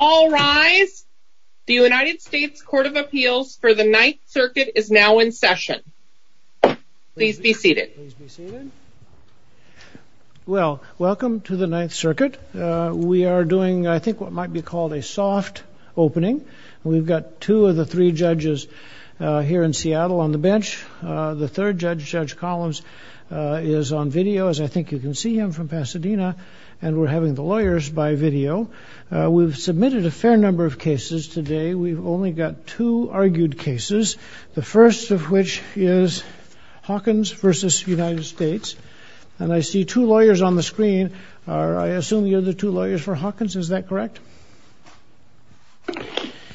All rise. The United States Court of Appeals for the Ninth Circuit is now in session. Please be seated. Well, welcome to the Ninth Circuit. We are doing, I think, what might be called a soft opening. We've got two of the three judges here in Seattle on the bench. The third judge, Judge Collins, is on video, as I think you can see him from Pasadena, and we're having the lawyers by video. We've submitted a fair number of cases today. We've only got two argued cases, the first of which is Hawkins v. United States, and I see two lawyers on the screen. I assume you're the two lawyers for Hawkins, is that correct?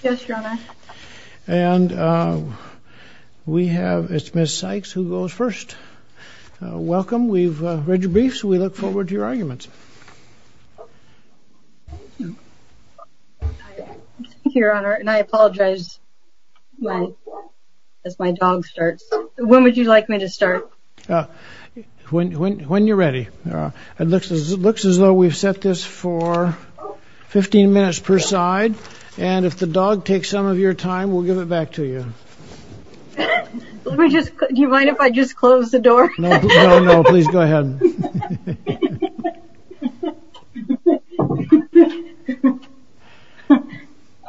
Yes, Your Honor. And we have, it's Ms. Sykes who goes first. Welcome. We've read your briefs. We look forward to your arguments. Thank you, Your Honor, and I apologize as my dog starts. When would you like me to start? When you're ready. It looks as though we've set this for 15 minutes per side, and if the dog takes some of your time, we'll give it back to you. No, no, no, please go ahead.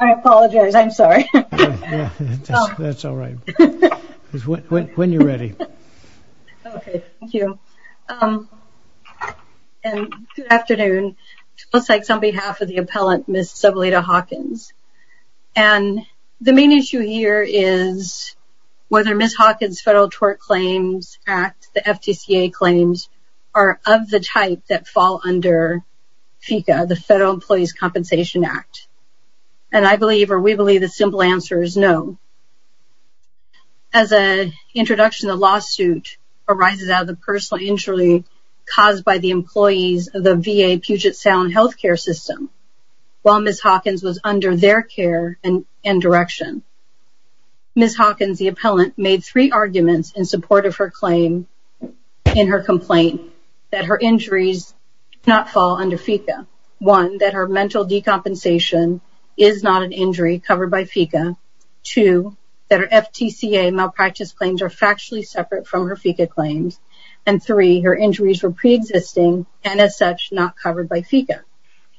I apologize. I'm sorry. That's all right. When you're ready. Okay, thank you. And good afternoon. I'm Sykes on behalf of the appellant, Ms. Sybilita Hawkins, and the main issue here is whether Ms. Hawkins' federal tort claims act, the FTCA claims, are of the type that fall under FECA, the Federal Employees' Compensation Act, and I believe, or we believe, the simple answer is no. As an introduction to the lawsuit arises out of the personal injury caused by the employees of the VA Puget Sound health care system, while Ms. Hawkins was under their care and direction. Ms. Hawkins, the appellant, made three arguments in support of her claim in her complaint that her injuries do not fall under FECA. One, that her mental decompensation is not an injury covered by FECA. Two, that her FTCA malpractice claims are factually separate from her FECA claims, and three, her injuries were not covered by FECA.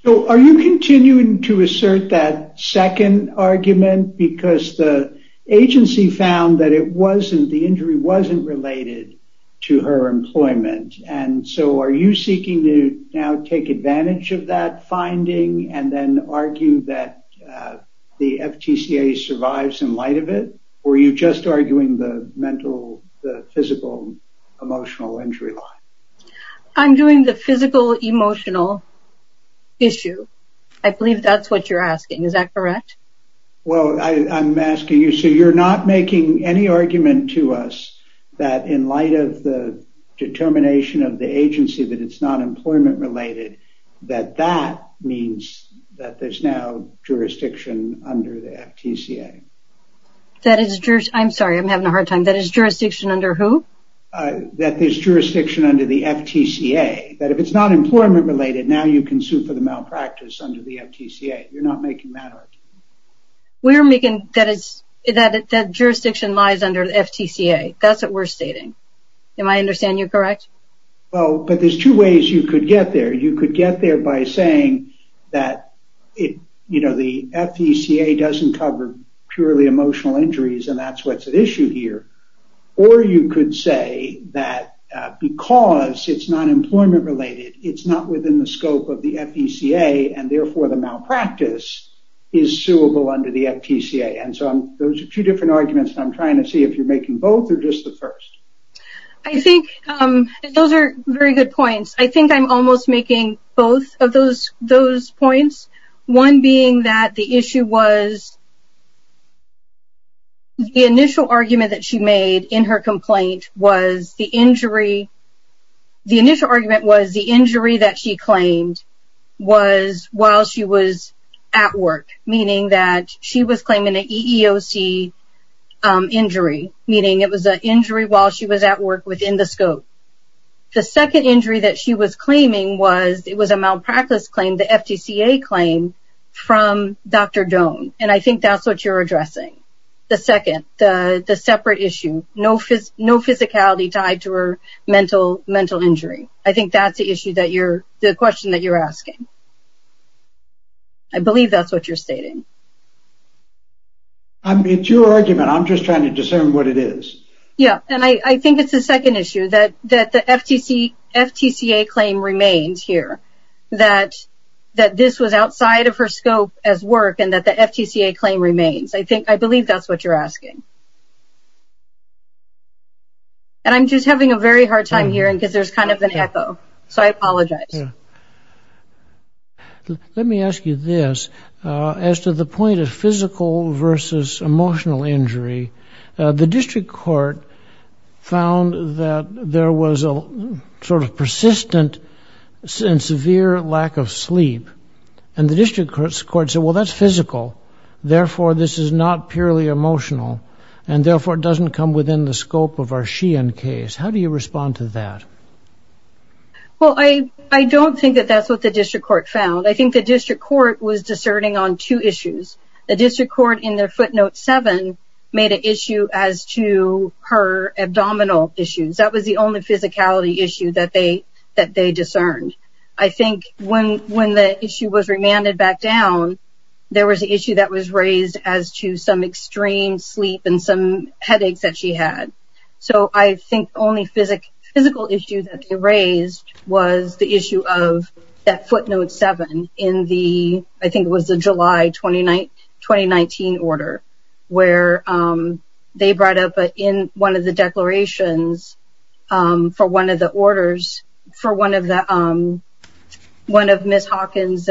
Would you continue to assert that second argument, because the agency found that it wasn't, the injury wasn't related to her employment, and so are you seeking to now take advantage of that finding and then argue that the FTCA survives in light of it, or are you just arguing the mental, the physical, emotional injury line? I'm doing the physical emotional issue. I believe that's what you're asking, is that correct? Well, I'm asking you, so you're not making any argument to us that in light of the determination of the agency that it's not employment related, that that means that there's now jurisdiction under the FTCA. That is, I'm sorry, I'm having a hard time. That is jurisdiction under who? That there's jurisdiction under the FTCA, that if it's not employment related, now you can sue for the malpractice under the FTCA. You're not making that argument. We're making, that is, that that jurisdiction lies under the FTCA. That's what we're stating. Am I understanding you correct? Well, but there's two ways you could get there. You could get there by saying that it, you know, the FECA doesn't cover purely emotional injuries, and that's what's at issue here. Or you could say that because it's not employment related, it's not within the scope of the FECA, and therefore, the malpractice is suable under the FTCA. And so, those are two different arguments, and I'm trying to see if you're making both or just the first. I think those are very good points. I think I'm almost making both of those points. One being that the issue was, the initial argument that she made in her complaint was the injury. The initial argument was the injury that she claimed was while she was at work, meaning that she was claiming an EEOC injury, meaning it was an injury while she was at work within the scope. The second injury that she was claiming was, it was a malpractice claim, the FTCA claim from Dr. Doan, and I think that's what you're addressing. The second, the separate issue, no physicality tied to her mental injury. I think that's the issue that you're, the question that you're asking. I believe that's what you're stating. I mean, it's your argument. I'm just trying to discern what it is. Yeah, and I think it's the second issue that the FTCA claim remains here, that this was outside of her scope as work and that the FTCA claim remains. I believe that's what you're asking. And I'm just having a very hard time hearing because there's kind of an echo, so I apologize. Let me ask you this. As to the point of physical versus emotional injury, the district court found that there was a sort of persistent and severe lack of sleep, and the district court said, well, that's physical, therefore, this is not purely emotional, and therefore, it doesn't come within the scope of our Sheehan case. How do you respond to that? Well, I don't think that that's what the district court found. I think the district court was as to her abdominal issues. That was the only physicality issue that they discerned. I think when the issue was remanded back down, there was an issue that was raised as to some extreme sleep and some headaches that she had. So, I think the only physical issue that they raised was the issue at footnote seven in the, I think it was the July 2019 order, where they brought up in one of the declarations for one of the orders for one of Ms. Hawkins'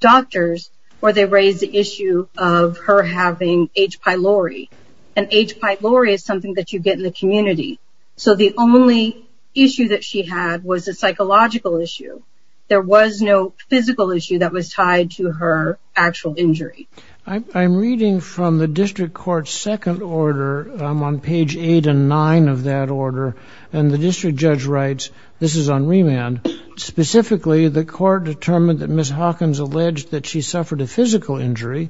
doctors, where they raised the issue of her having H. pylori, and H. pylori is something that you get in the community. So, the only issue that she had was a psychological issue. There was no physical issue that was tied to her actual injury. I'm reading from the district court's second order on page eight and nine of that order, and the district judge writes, this is on remand, specifically, the court determined that Ms. Hawkins alleged that she suffered a physical injury,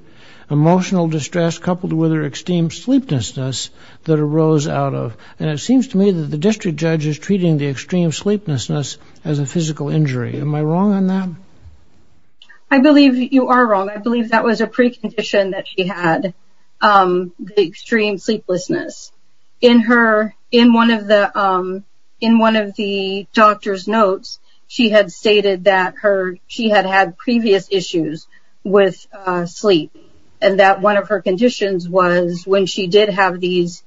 emotional distress, coupled with her extreme sleeplessness that arose out of, and it seems to me that the district judge is treating the extreme sleeplessness as a physical injury. Am I wrong on that? I believe you are wrong. I believe that was a precondition that she had the extreme sleeplessness. In one of the doctor's notes, she had stated that she had had previous issues with sleep, and that one of her conditions was, when she did have these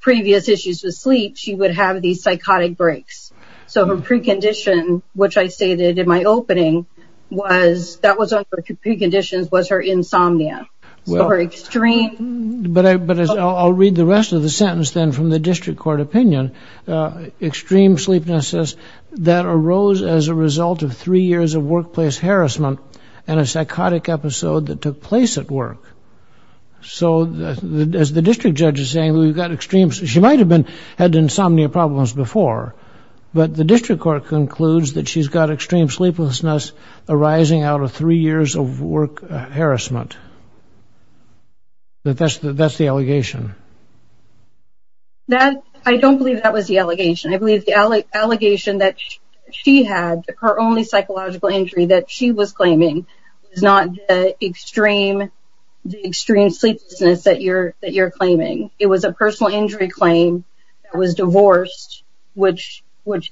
previous issues with sleep, she would have these psychotic breaks. So, her precondition, which I stated in my opening, was, that was one of her preconditions, was her insomnia. So, her extreme... But I'll read the rest of the sentence, then, from the district court opinion. Extreme sleeplessness that arose as a result of three years of workplace harassment and a psychotic episode that took place at work. So, as the district judge is saying, we've got extreme... She might have had insomnia problems before, but the district court concludes that she's got extreme sleeplessness arising out of three years of work harassment. That's the allegation. That, I don't believe that was the allegation. I believe the allegation that she had, her only psychological injury that she was claiming, was not the extreme sleeplessness that you're claiming. It was a personal injury claim that was divorced, which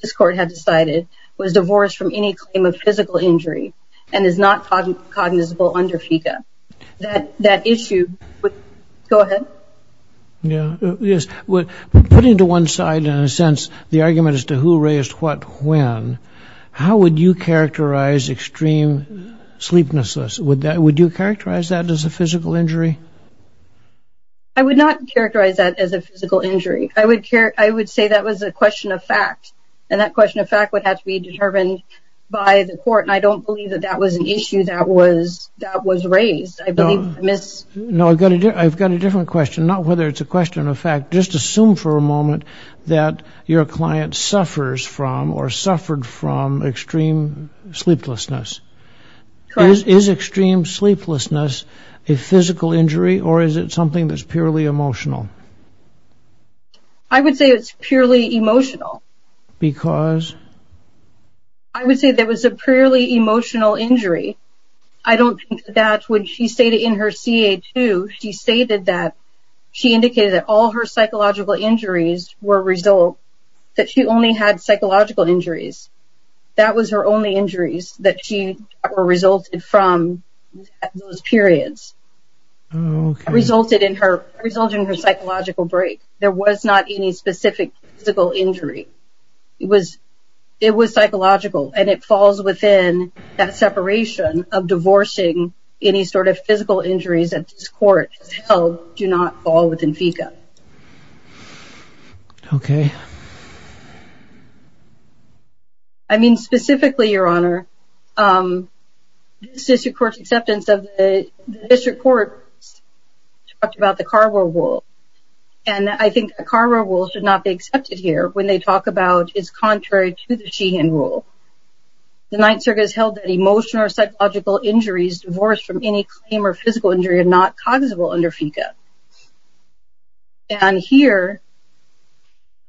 this court had decided, was divorced from any claim of physical injury, and is not cognizable under FICA. That issue... Go ahead. Yeah, yes. Put into one side, in a sense, the argument as to who raised what when, how would you characterize extreme sleeplessness? Would you characterize that as a physical injury? I would not characterize that as a physical injury. I would say that was a question of fact, and that question of fact would have to be determined by the court, and I don't believe that that was an issue that was raised. I believe... No, I've got a different question, not whether it's a question of fact. Just assume for a moment that your client suffers from, or suffered from, extreme sleeplessness. Is extreme sleeplessness a physical injury, or is it something that's purely emotional? I would say it's purely emotional. Because? I would say there was a purely emotional injury. I don't think that when she stated in her CA-2, she stated that she indicated that all her psychological injuries were a result, that she only had psychological injuries. That was her only injuries that she resulted from those periods. Resulted in her psychological break. There was not any specific physical injury. It was... It was psychological, and it falls within that separation of divorcing any sort of physical injuries that this court has held do not fall within FICA. Okay. I mean, specifically, Your Honor, this District Court's acceptance of the... The District Court talked about the Carver Rule, and I think the Carver Rule should not be accepted here when they talk about is contrary to the Sheehan Rule. The Ninth Circuit has held that emotional or psychological injuries divorced from any claim or physical injury are not cognizable under FICA. And here,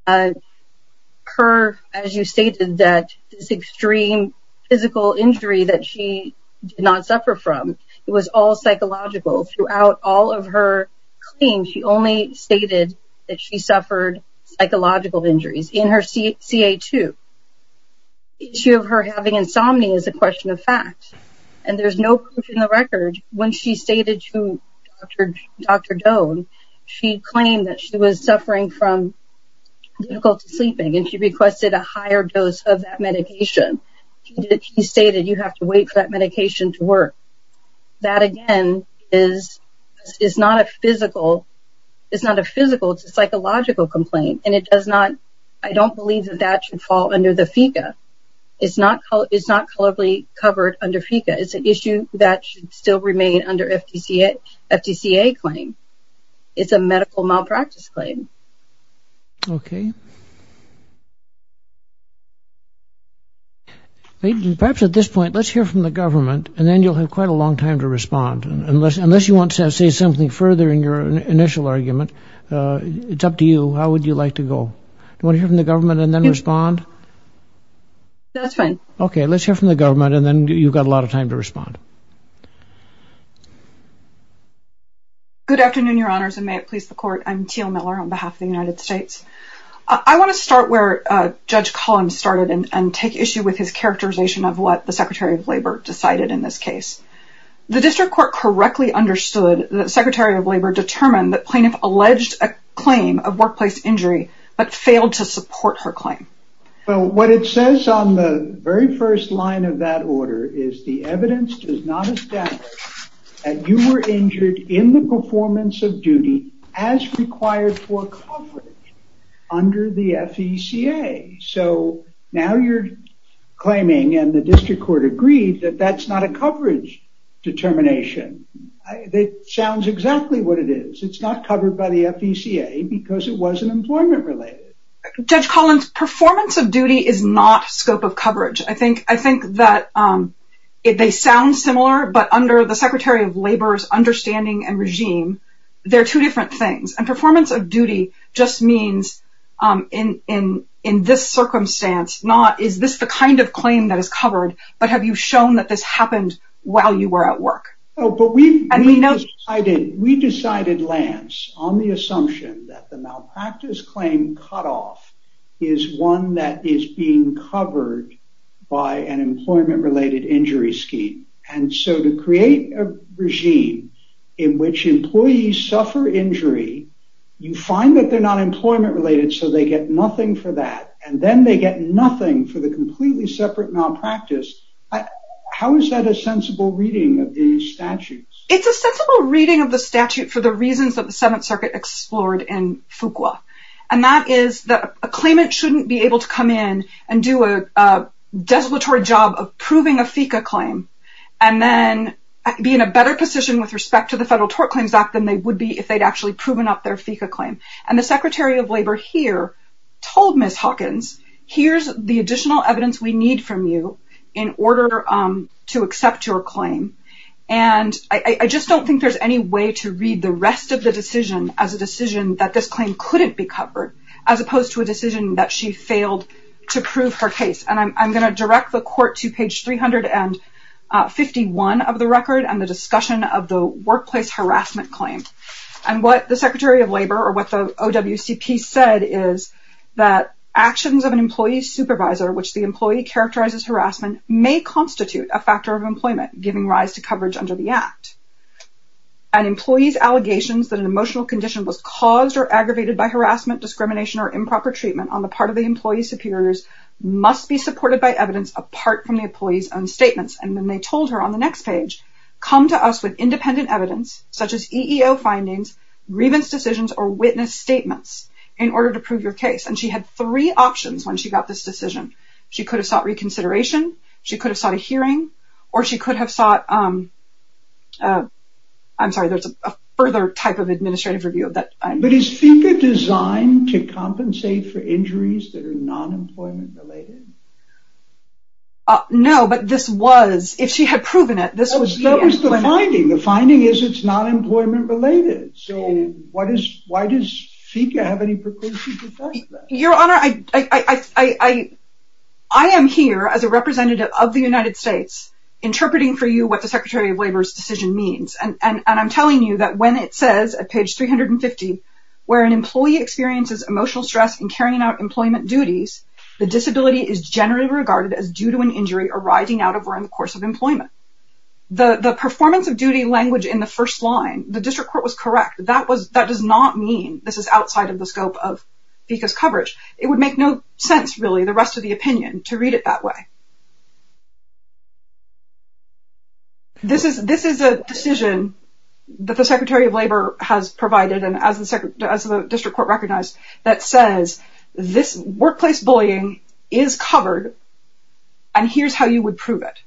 her, as you stated, that this extreme physical injury that she did not suffer from, it was all psychological. Throughout all of her claims, she only stated that she suffered psychological injuries in her CA2. The issue of her having insomnia is a question of fact, and there's no proof in the record when she stated to Dr. Doan, she claimed that she was suffering from difficulty sleeping, and she requested a higher dose of that medication. She stated, you have to wait for that medication to work. That, again, is not a physical... It's not a physical, it's a psychological complaint, and it does not... I don't believe that that should fall under the FICA. It's not colorably covered under FICA. It's an issue that should still remain under FDCA claim. It's a medical malpractice claim. Okay. Perhaps at this point, let's hear from the government, and then you'll have quite a long time to respond. Unless you want to say something further in your initial argument, it's up to you. How would you like to go? Do you want to hear from the government and then respond? That's fine. Okay. Let's hear from the government, and then you've got a lot of time to respond. Good afternoon, Your Honors, and may it please the Court. I'm Teal Miller on behalf of the United States. I want to start where Judge Collins started and take issue with his characterization of what the Secretary of Labor decided in this case. The District Court correctly understood that Secretary of Labor determined that plaintiff alleged a claim of workplace injury, but failed to support her claim. Well, what it says on the very first line of that order is the evidence does not establish that you were injured in the performance of duty as required for coverage under the FECA. So now you're claiming, and the District Court agreed, that that's not a coverage determination. It sounds exactly what it is. It's not covered by the FECA because it wasn't employment-related. Judge Collins, performance of duty is not scope of coverage. I think that they sound similar, but under the Secretary of Labor's understanding and regime, they're two different things. And this circumstance, not, is this the kind of claim that is covered, but have you shown that this happened while you were at work? But we decided, Lance, on the assumption that the malpractice claim cutoff is one that is being covered by an employment-related injury scheme. And so to create a regime in which employees suffer injury, you find that they're not employment-related so they get nothing for that. And then they get nothing for the completely separate malpractice. How is that a sensible reading of these statutes? It's a sensible reading of the statute for the reasons that the Seventh Circuit explored in Fuqua. And that is that a claimant shouldn't be able to come in and do a desolatory job of proving a FECA claim and then be in a better position with respect to the Federal Tort Claims Act than they would be if they'd actually proven up their FECA claim. And the Secretary of Labor here told Ms. Hawkins, here's the additional evidence we need from you in order to accept your claim. And I just don't think there's any way to read the rest of the decision as a decision that this claim couldn't be covered, as opposed to a decision that she failed to prove her case. And I'm going to direct the Court to page 351 of the record and the discussion of the workplace harassment claim. And what the Secretary of Labor, or OWCP, said is that actions of an employee's supervisor, which the employee characterizes harassment, may constitute a factor of employment, giving rise to coverage under the Act. An employee's allegations that an emotional condition was caused or aggravated by harassment, discrimination, or improper treatment on the part of the employee's superiors must be supported by evidence apart from the employee's own statements. And then they told her on the next page, come to us with independent evidence, such as EEO findings, grievance decisions, or witness statements, in order to prove your case. And she had three options when she got this decision. She could have sought reconsideration, she could have sought a hearing, or she could have sought, I'm sorry, there's a further type of administrative review of that. But is FICA designed to compensate for injuries that are non-employment related? No, but this was, if she had proven it, this was... The finding is it's not employment related. So why does FICA have any precautions? Your Honor, I am here as a representative of the United States, interpreting for you what the Secretary of Labor's decision means. And I'm telling you that when it says at page 350, where an employee experiences emotional stress in carrying out employment duties, the disability is generally regarded as due to an injury arising out of or in the course of employment. The performance of duty language in the first line, the district court was correct. That does not mean this is outside of the scope of FICA's coverage. It would make no sense, really, the rest of the opinion, to read it that way. This is a decision that the Secretary of Labor has provided, and as the district court recognized, that says this workplace bullying is covered, and here's how you would prove it.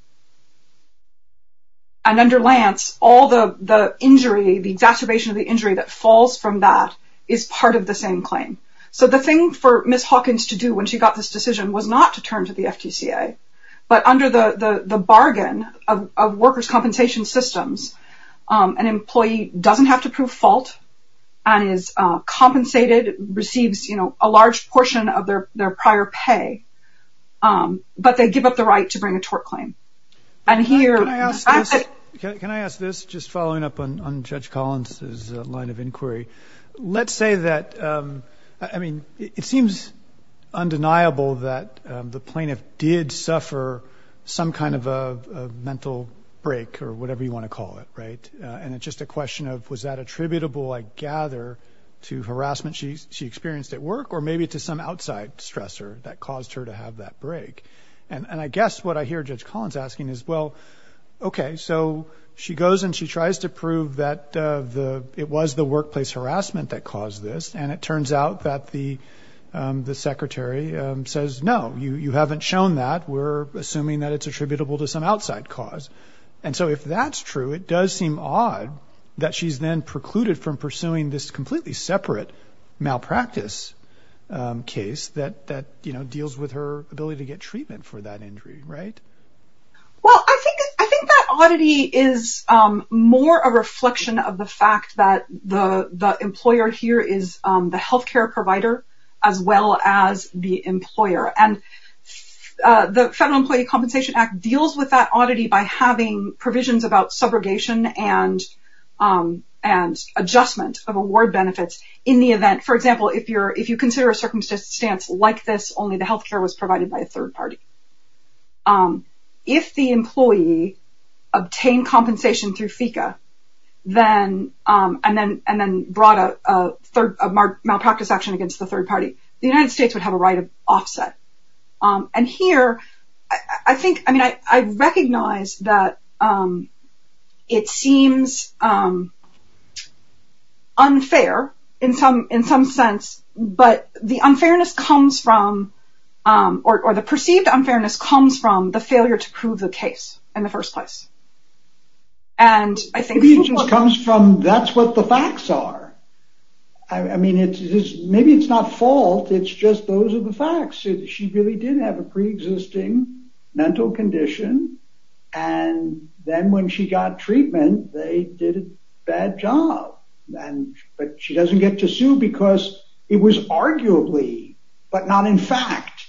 And under Lance, all the injury, the exacerbation of the injury that falls from that is part of the same claim. So the thing for Ms. Hawkins to do when she got this decision was not to turn to the FTCA, but under the bargain of workers' compensation systems, an employee doesn't have to prove fault and is compensated, receives, you know, a large portion of their prior pay, but they give up the right to bring a tort claim. Can I ask this, just following up on Judge Collins's line of inquiry? Let's say that, I mean, it seems undeniable that the plaintiff did suffer some kind of a mental break or whatever you want to call it, right? And it's just a question of, was that attributable, I gather, to harassment she experienced at work or maybe to some outside stressor that caused her to have that break? And I guess what I hear Judge Collins asking is, well, okay, so she goes and she tries to prove that it was the workplace harassment that caused this, and it turns out that the Secretary says, no, you haven't shown that. We're assuming that it's attributable to some outside cause. And so if that's true, it does seem odd that she's then precluded from pursuing this completely separate malpractice case that, you know, deals with her ability to get treatment for that injury, right? Well, I think that oddity is more a reflection of the fact that the employer here is the health care provider as well as the employer. And the Federal Employee Compensation Act deals with that oddity by having provisions about subrogation and adjustment of award benefit in the event, for example, if you consider a circumstance like this, only the health care was provided by a third party. If the employee obtained compensation through FECA and then brought a malpractice action against the third party, the United States would have a right of in some sense, but the unfairness comes from, or the perceived unfairness comes from the failure to prove the case in the first place. And I think... It comes from that's what the facts are. I mean, maybe it's not fault. It's just those are the facts. She really did have a preexisting mental condition. And then when she got treatment, they did a bad job. And, but she doesn't get to sue because it was arguably, but not in fact,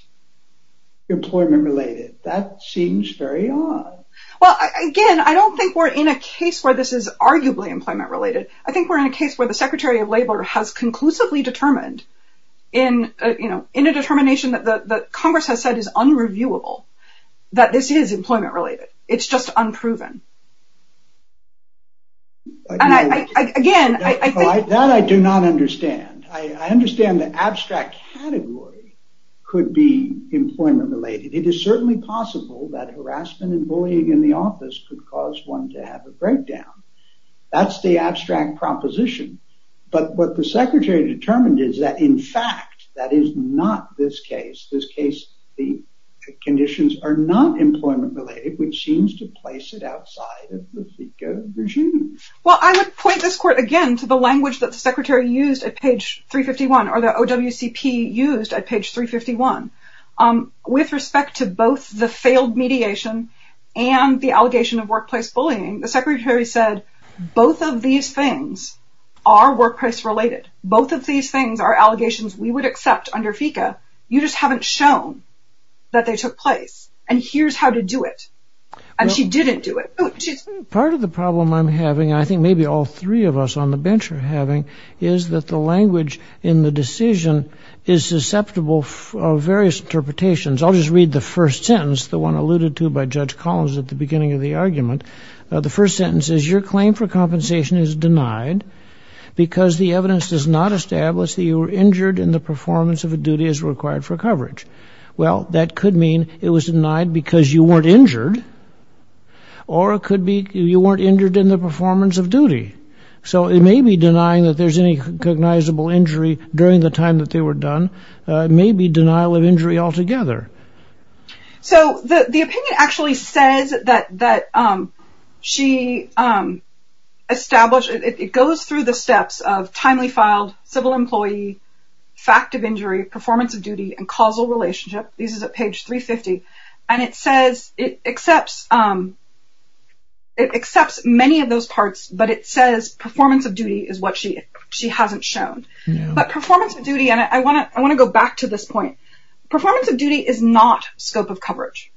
employment related. That seems very odd. Well, again, I don't think we're in a case where this is arguably employment related. I think we're in a case where the Secretary of Labor has conclusively determined in a determination that Congress has said is unreviewable that this is employment related. It's just unproven. And I, again... That I do not understand. I understand the abstract category could be employment related. It is certainly possible that harassment and bullying in the office could cause one to have a breakdown. That's the abstract proposition. But what the in fact, that is not this case. This case, the conditions are not employment related, which seems to place it outside of the FECA regime. Well, I would point this court again to the language that the secretary used at page 351 or the OWCP used at page 351. With respect to both the failed mediation and the allegation of workplace bullying, the secretary said, both of these things are workplace related. Both of these things are allegations we would accept under FECA. You just haven't shown that they took place. And here's how to do it. And she didn't do it. Part of the problem I'm having, I think maybe all three of us on the bench are having, is that the language in the decision is susceptible of various interpretations. I'll just read the first sentence, the one alluded to by Judge Collins at the beginning of the argument. The first sentence is your claim for compensation is denied because the evidence does not establish that you were injured in the performance of a duty as required for coverage. Well, that could mean it was denied because you weren't injured. Or it could be you weren't injured in the performance of duty. So it may be denying that there's any cognizable injury during the time that they were done, maybe denial of injury altogether. So the opinion actually says that she established, it goes through the steps of timely filed, civil employee, fact of injury, performance of duty, and causal relationship. This is at page 350. And it says it accepts many of those parts, but it says performance of duty is what she hasn't shown. But performance of duty, and I want to go back to this point. Performance of duty is not scope of coverage.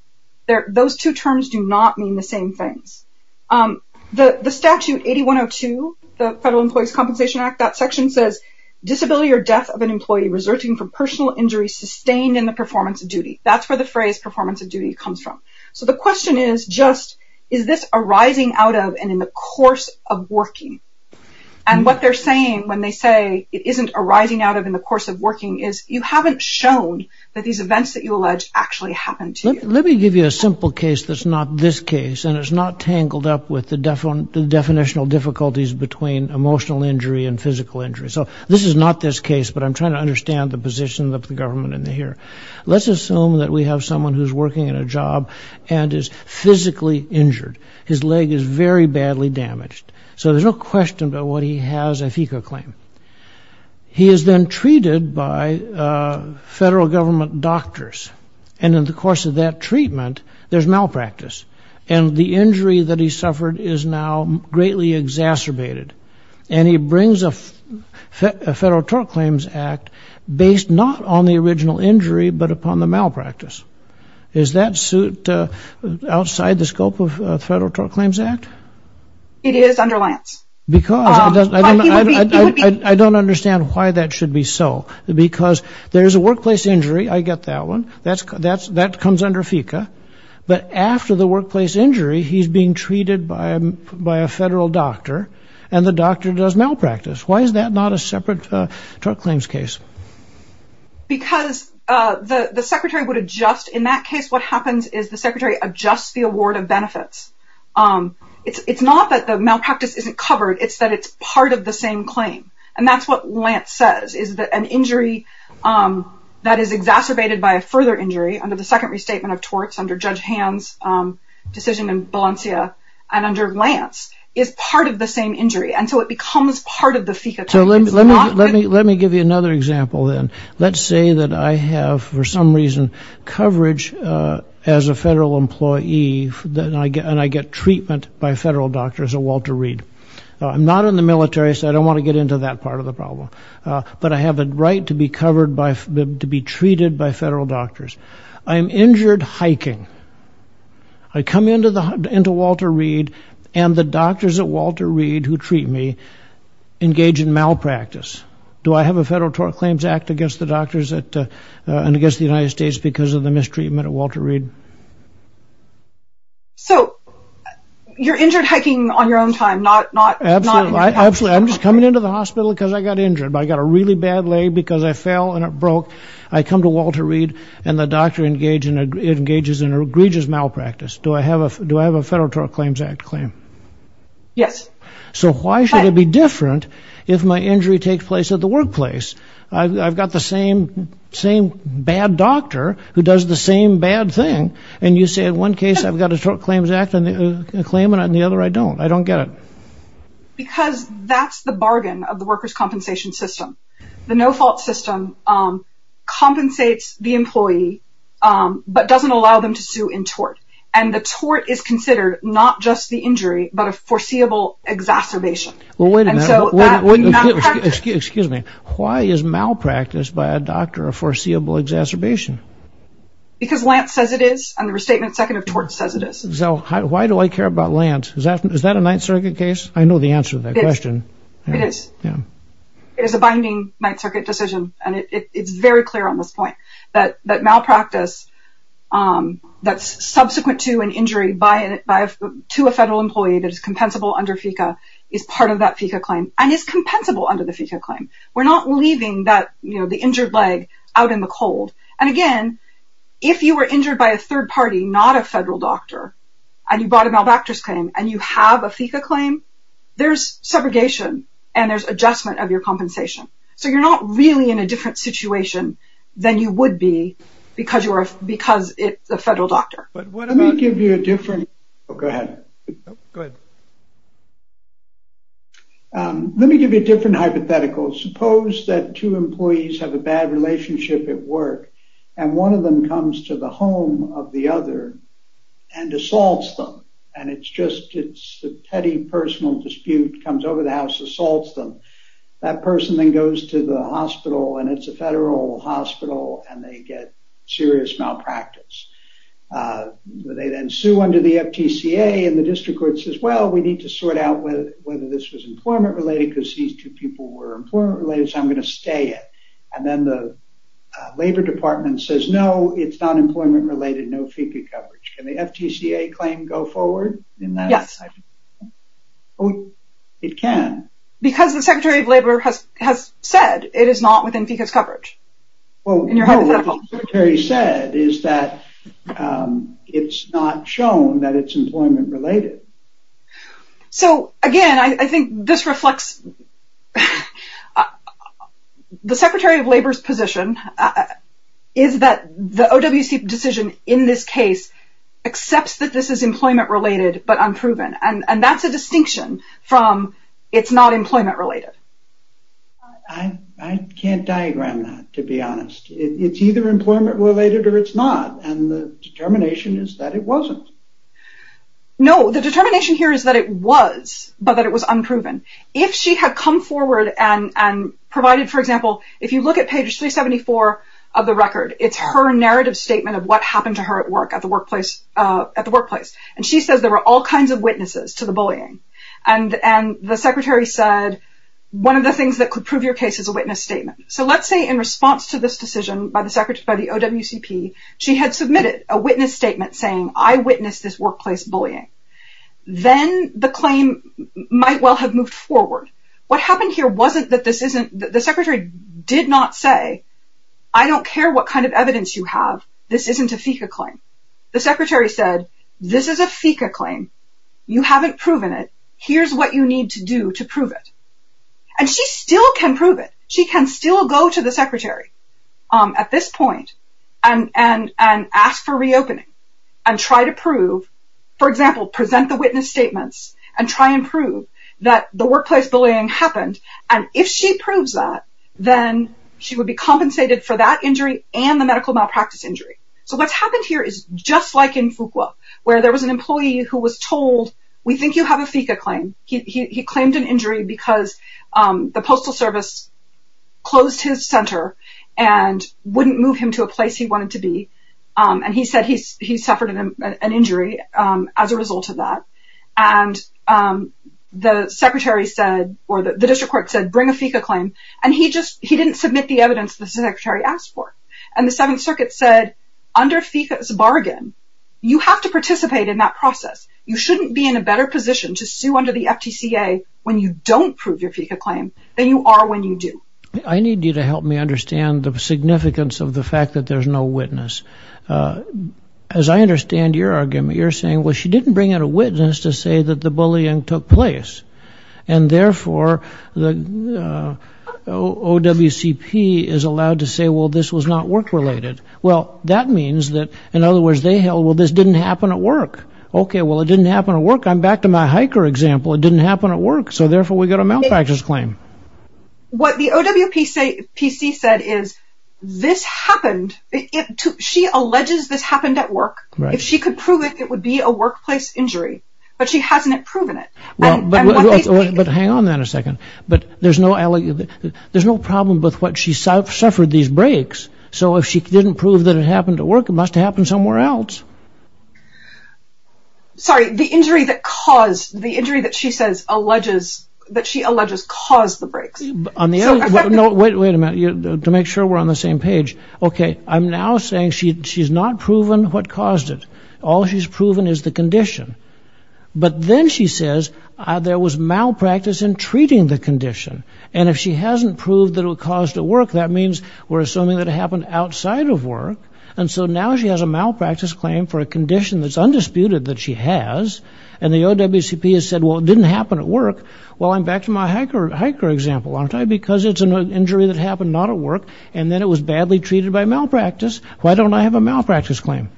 Those two terms do not mean the same things. The statute 8102, the Federal Employees' Compensation Act, that section says, disability or death of an employee resulting from personal injury sustained in the performance of duty. That's where the phrase performance of duty comes from. So the question is just, is this arising out of and in the course of working? And what they're saying when they say it isn't arising out of in the course of working is you haven't shown that these events that you allege actually happened to you. Let me give you a simple case that's not this case, and it's not tangled up with the definitional difficulties between emotional injury and physical injury. So this is not this case, but I'm trying to understand the position of the government in here. Let's assume that we have someone who's working in a job and is physically injured. His leg is very badly damaged. So there's no question about what he has if he could claim. He is then treated by federal government doctors, and in the course of that treatment, there's malpractice. And the injury that he suffered is now greatly exacerbated. And he brings a Federal Tort Claims Act based not on the original injury but upon the malpractice. Is that suit outside the scope of Federal Tort Claims Act? It is under Lance. I don't understand why that should be so. Because there's a workplace injury, I get that one, that comes under FECA. But after the workplace injury, he's being treated by a federal doctor, and the doctor does malpractice. Why is that not a separate Tort Claims case? Because the Secretary would adjust. In that case, what happens is the Secretary adjusts the award of benefits. It's not that the malpractice isn't covered, it's that it's part of the same claim. And that's what Lance says, is that an injury that is exacerbated by a further injury under the second restatement of torts under Judge Hand's decision in Valencia and under Lance is part of the same injury. And so it becomes part of the FECA. So let me give you another example then. Let's say that I have, for some reason, coverage as a federal employee, and I get treatment by federal doctors at Walter Reed. I'm not in the military, so I don't want to get into that part of the problem. But I have a right to be covered by, to be treated by federal doctors. I'm injured hiking. I come into Walter Reed, and the doctors at Walter Reed who treat me engage in malpractice. Do I have a Federal Tort Claims Act against the doctors at, and against the United States because of the mistreatment at Walter Reed? So you're injured hiking on your own time, not, not, not. Absolutely. I'm just coming into the hospital because I got injured. I got a really bad lay because I fell and it broke. I come to Walter Reed, and the doctor engages in an egregious malpractice. Do I have a, do I have a Federal Tort Claims Act claim? Yes. So why should it be different if my injury takes place at the workplace? I've got the same, same bad doctor who does the same bad thing, and you say in one case I've got a Tort Claims Act claim, and the other I don't. I don't get it. Because that's the bargain of the workers' compensation system. The no-fault system compensates the employee, but doesn't allow them to sue in tort. And the tort is considered not just the injury, but a foreseeable exacerbation. Well, wait a minute. Excuse me. Why is malpractice by a doctor a foreseeable exacerbation? Because Lance says it is, and the Restatement Second of Tort says it is. So why do I care about Lance? Is that, is that a Ninth Circuit case? I know the answer to that question. It is. It is a binding Ninth Circuit decision, and it's very clear on this point that malpractice that's subsequent to an injury by, to a federal employee that is compensable under FECA is part of that FECA claim, and is compensable under the FECA claim. We're not leaving that, you know, the injured leg out in the cold. And again, if you were injured by a third party, not a federal doctor, and you brought a malpractice claim, and you have a FECA claim, there's segregation, and there's adjustment of your compensation. So you're not really in a different situation than you would be because you are, because it's a federal doctor. But what about... Let me give you a different... Oh, go ahead. Go ahead. Let me give you a different hypothetical. Suppose that two employees have a bad relationship at work, and one of them comes to the home of the other, and assaults them. And it's just, it's a petty personal dispute, comes over the house, assaults them. That person then goes to the hospital, and it's a federal hospital, and they get serious malpractice. They then sue under the FTCA, and the district court says, well, we need to sort out whether this was employment related, because these two people were employment related, so I'm going to stay it. And then the labor department says, no, it's not employment related, no FECA coverage. Can the FTCA claim go forward in that? Yes. It can. Because the Secretary of Labor has said it is not within FECA's coverage. Well, what the Secretary said is that it's not shown that it's employment related. So again, I think this reflects... The Secretary of Labor's position is that the OWC decision in this case accepts that this is employment related. I can't diagram that, to be honest. It's either employment related or it's not, and the determination is that it wasn't. No, the determination here is that it was, but that it was unproven. If she had come forward and provided, for example, if you look at page 374 of the record, it's her narrative statement of what happened to her at work, at the workplace, and she says there were all kinds of witnesses to the bullying. And the Secretary said, one of the things that could prove your case is a witness statement. So let's say in response to this decision by the OWCP, she had submitted a witness statement saying, I witnessed this workplace bullying. Then the claim might well have moved forward. What happened here wasn't that this isn't... The Secretary did not say, I don't care what kind of evidence you have. This isn't a FECA claim. The Secretary said, this is a FECA claim. You haven't proven it. Here's what you need to do to prove it. And she still can prove it. She can still go to the Secretary at this point and ask for reopening and try to prove, for example, present the witness statements and try and prove that the workplace bullying happened. And if she proves that, then she would be compensated for that injury and the medical malpractice injury. So what's happened here is just like in Fuqua, where there was an employee who was told, we think you have a FECA claim. He claimed an injury because the Postal Service closed his center and wouldn't move him to a place he wanted to be. And he said he suffered an injury as a result of that. And the Secretary said, or the District Court said, bring a FECA claim. And he didn't submit the evidence the Secretary asked for. And the Seventh Circuit said under FECA's bargain, you have to participate in that process. You shouldn't be in a better position to sue under the FTCA when you don't prove your FECA claim than you are when you do. I need you to help me understand the significance of the fact that there's no witness. As I understand your argument, you're saying, well, she didn't bring in a witness to say that the bullying took place. And therefore, the OWCP is allowed to say, well, this was not work related. Well, that means that, in other words, they held, well, this didn't happen at work. OK, well, it didn't happen at work. I'm back to my hiker example. It didn't happen at work. So therefore, we got a malpractice claim. What the OWPC said is this happened. She alleges this happened at work. If she could prove it, it would be a workplace injury. But she hasn't proven it. Well, but hang on a second. But there's no there's no problem with what she suffered these breaks. So if she didn't prove that it happened at work, it must happen somewhere else. Sorry, the injury that caused the injury that she says alleges that she alleges caused the breaks on the. No, wait, wait a minute to make sure we're on the same page. OK, I'm now saying she she's not proven what caused it. All she's proven is the condition. But then she says there was malpractice in treating the condition. And if she hasn't proved that it caused at work, that means we're assuming that it happened outside of work. And so now she has a malpractice claim for a condition that's undisputed that she has. And the OWCP has said, well, it didn't happen at work. Well, I'm back to my hiker example, aren't I? Because it's an injury that happened not at work. And then it was badly treated by malpractice. Why don't I have a malpractice claim?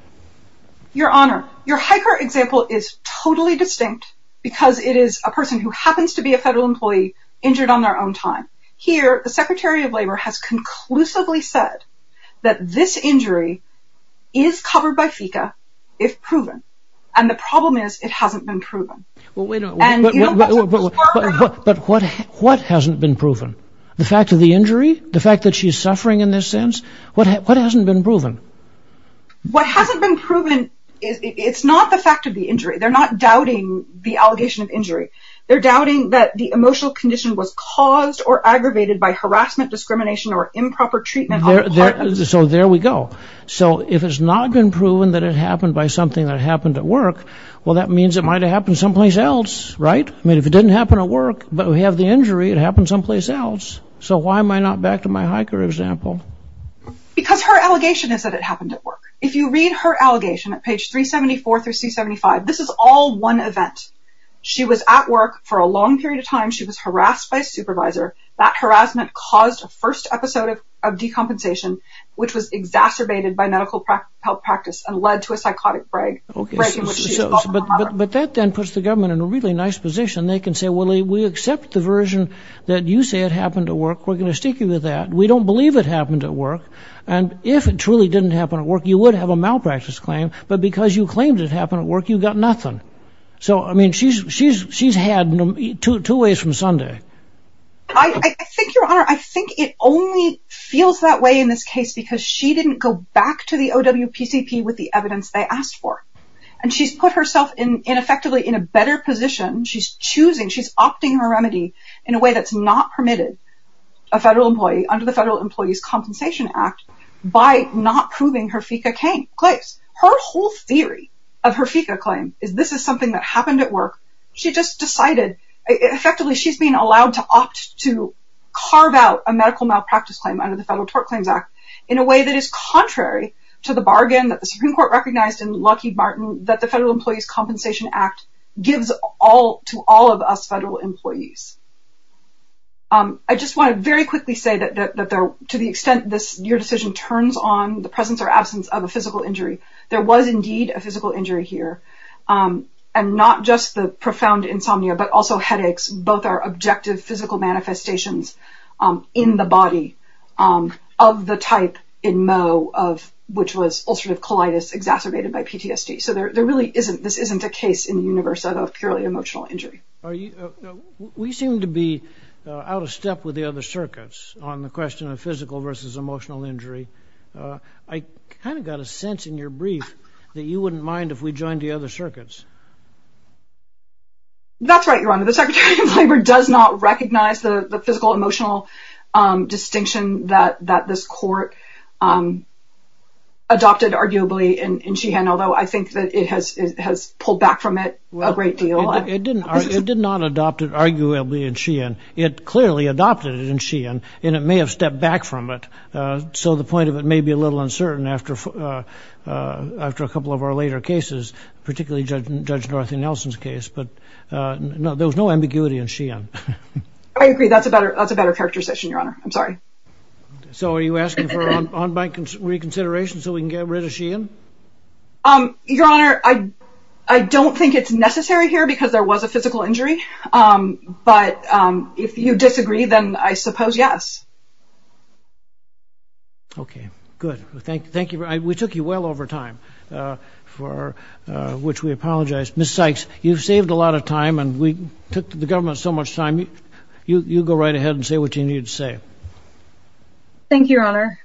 Your Honor, your hiker example is totally distinct because it is a person who happens to be a federal employee injured on their own time. Here, the secretary of labor has conclusively said that this injury is covered by FICA if proven. And the problem is it hasn't been proven. But what hasn't been proven? The fact of the injury, the fact that she's suffering in this sense, what hasn't been proven? What hasn't been proven is it's not the fact of the injury. They're not doubting the allegation of injury. They're doubting that the emotional condition was caused or aggravated by harassment, discrimination or improper treatment. So there we go. So if it's not been proven that it happened by something that happened at work, well, that means it might have happened someplace else, right? I mean, if it didn't happen at work, but we have the injury, it happened someplace else. So why am I not back to my hiker example? Because her allegation is that it happened at work. If you read her allegation at page 374 through C-75, this is all one event. She was at work for a long period of time. She was harassed by a supervisor. That harassment caused a first episode of decompensation, which was exacerbated by medical health practice and led to a psychotic break. But that then puts the government in a really nice position. They can say, well, we accept the version that you say it happened at work. We're going to stick with that. We don't believe it happened at work. And if it truly didn't happen at work, you would have a malpractice claim. But because you claimed it happened at work, you got nothing. So, I mean, she's had two ways from Sunday. I think, Your Honor, I think it only feels that way in this case because she didn't go back to the OWPCP with the evidence they asked for. And she's put herself in effectively in a better position. She's choosing. She's opting her remedy in a way that's not permitted. A federal employee under the Federal Employees Compensation Act by not proving her FICA claims. Her whole theory of her FICA claim is this is something that happened at work. She just decided effectively she's being allowed to opt to carve out a medical malpractice claim under the Federal Tort Claims Act in a way that is contrary to the bargain that the Supreme Court recognized in Lucky Martin that the Federal Employees Compensation Act gives all to all of us federal employees. I just want to very quickly say that to the extent your decision turns on the presence or absence of a physical injury, there was indeed a physical injury here. And not just the profound insomnia, but also headaches. Both are objective physical manifestations in the body of the type in Moe of which was ulcerative colitis exacerbated by PTSD. So there really isn't this isn't a case in the universe of purely emotional injury. You know, we seem to be out of step with the other circuits on the question of physical versus emotional injury. I kind of got a sense in your brief that you wouldn't mind if we joined the other circuits. That's right, your honor. The Secretary of Labor does not recognize the physical emotional distinction that that this court adopted, arguably, and she had, although I think that it has has pulled back from it a great deal. It didn't. It did not adopt it, arguably, and she and it clearly adopted it and she and it may have stepped back from it. So the point of it may be a little uncertain after after a couple of our later cases, particularly Judge Dorothy Nelson's case. But no, there was no ambiguity and she and I agree. That's a better that's a better characterization, your honor. I'm sorry. So are you asking for on my reconsideration so we can get rid of she and your honor? I don't think it's necessary here because there was a physical injury. But if you disagree, then I suppose, yes. OK, good. Thank you. We took you well over time for which we apologize. Miss Sykes, you've saved a lot of time and we took the government so much time. You go right ahead and say what you need to say. Thank you, your honor.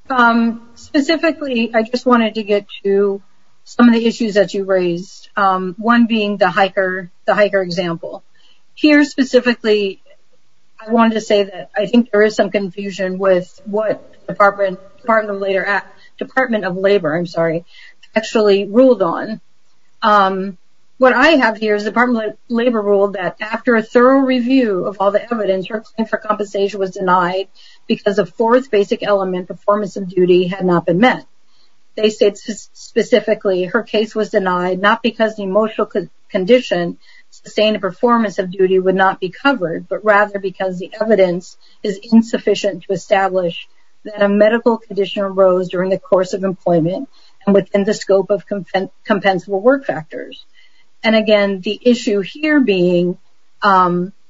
Specifically, I just wanted to get to some of the issues that you raised, one being the hiker, the hiker example here specifically. I wanted to say that I think there is some confusion with what the Department of Labor I'm sorry, actually ruled on. What I have here is the Department of Labor rule that after a thorough review of all the not been met. They said specifically her case was denied, not because the emotional condition sustained a performance of duty would not be covered, but rather because the evidence is insufficient to establish that a medical condition arose during the course of employment and within the scope of compensable work factors. And again, the issue here being, you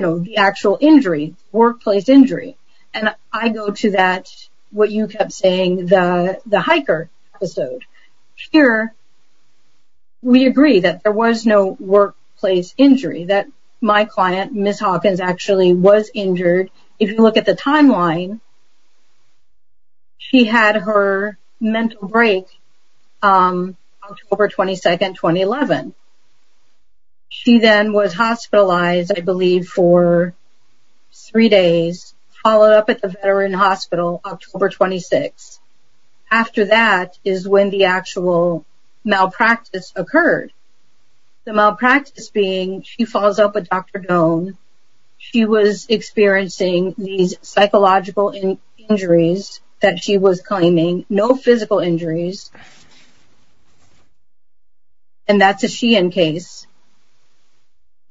know, the actual injury, workplace injury. And I go to that, what you kept saying, the hiker episode. Here, we agree that there was no workplace injury, that my client, Miss Hawkins, actually was injured. If you look at the timeline, she had her mental break October 22, 2011. She then was hospitalized, I believe for three days, followed up at the Veteran Hospital October 26. After that is when the actual malpractice occurred. The malpractice being, she falls out with Dr. Doan. She was experiencing these psychological injuries that she was claiming, no physical injuries. And that's a she-in case,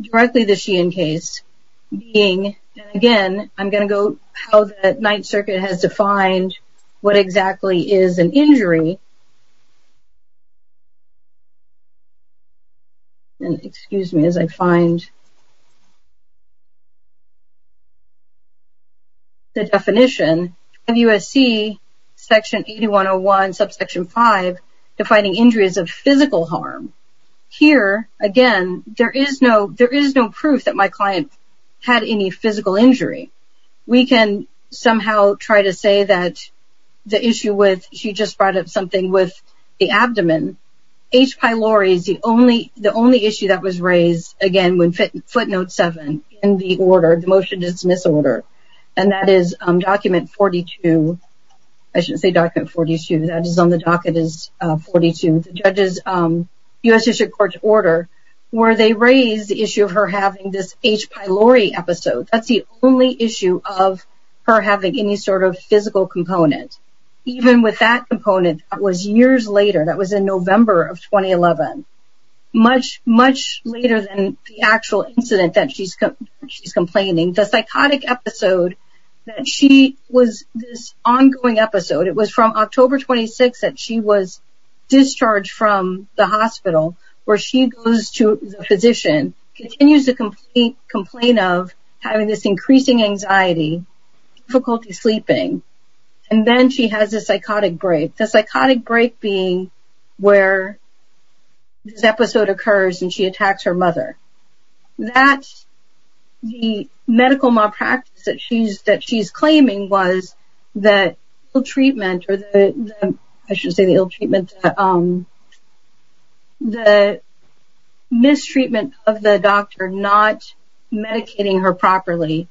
directly the she-in case, being, again, I'm going to go how the Ninth Circuit has defined what exactly is an injury. And excuse me as I find the definition. WSC Section 8101, Subsection 5, defining injuries of physical harm. Here, again, there is no proof that my client had any physical injury. We can somehow try to say that the issue with, she just brought up something with the abdomen. H. pylori is the only issue that was raised, again, when footnote 7 in the order, the motion to dismiss order. And that is document 42, I shouldn't say document 42, that is on the docket is 42. The judges, U.S. District Court's order, where they raised the issue of her having this H. pylori episode. That's the only issue of her having any sort of physical component. Even with that component, that was years later. That was in November of 2011. Much, much later than the actual incident that she's complaining. The psychotic episode that she was, this ongoing episode, it was from October 26 that she was discharged from the hospital where she goes to the physician, continues to complain of having this increasing anxiety, difficulty sleeping. And then she has a psychotic break. The psychotic break being where this episode occurs and she attacks her mother. That's the medical malpractice that she's claiming was the ill treatment or the, I should say the ill treatment, the mistreatment of the doctor not medicating her properly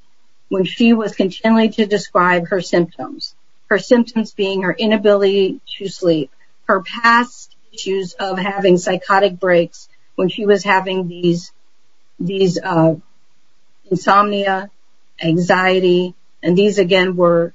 when she was continuing to describe her symptoms. Her symptoms being her inability to sleep, her past issues of having psychotic breaks when she was having these insomnia, anxiety, and these again were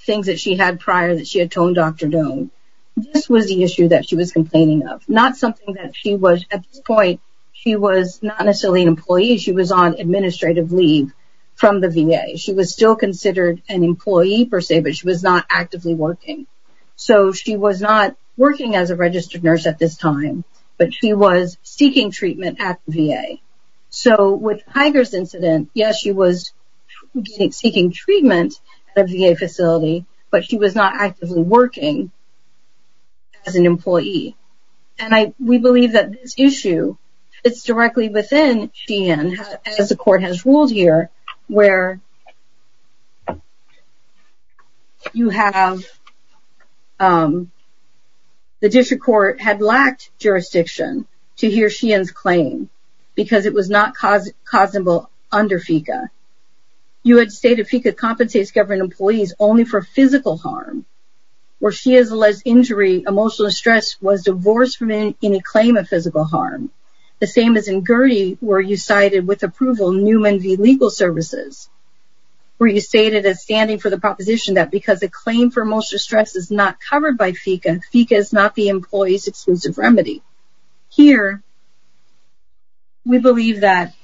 things that she had prior that she had told Dr. Doan. This was the issue that she was complaining of. Not something that she was, at this point, she was not necessarily an employee. She was on administrative leave from the VA. She was still considered an employee, per se, but she was not actively working. So, she was not working as a registered nurse at this time, but she was seeking treatment at the VA. So, with Tiger's incident, yes, she was seeking treatment at a VA facility, but she was not actively working as an employee. And we believe that this issue, it's directly within Sheehan, as the court has ruled here, where you have the district court had lacked jurisdiction to hear Sheehan's claim because it was not causable under FECA. You had stated FECA compensates government employees only for physical harm, where she alleged injury, emotional distress, was divorced from any claim of physical harm. The same as in Gertie, where you cited with approval Newman v. Legal Services, where you stated a standing for the proposition that because a claim for emotional stress is not covered by FECA, FECA is not the employee's exclusive remedy. Here, we believe that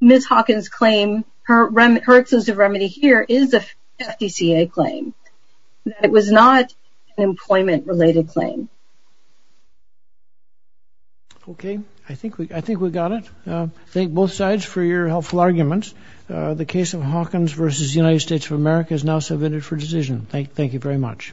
Ms. Hawkins' claim, her exclusive remedy here is a FECA claim, that it was not an employment-related claim. Okay. I think we got it. Thank both sides for your helpful arguments. The case of Hawkins v. United States of America is now submitted for decision. Thank you very much.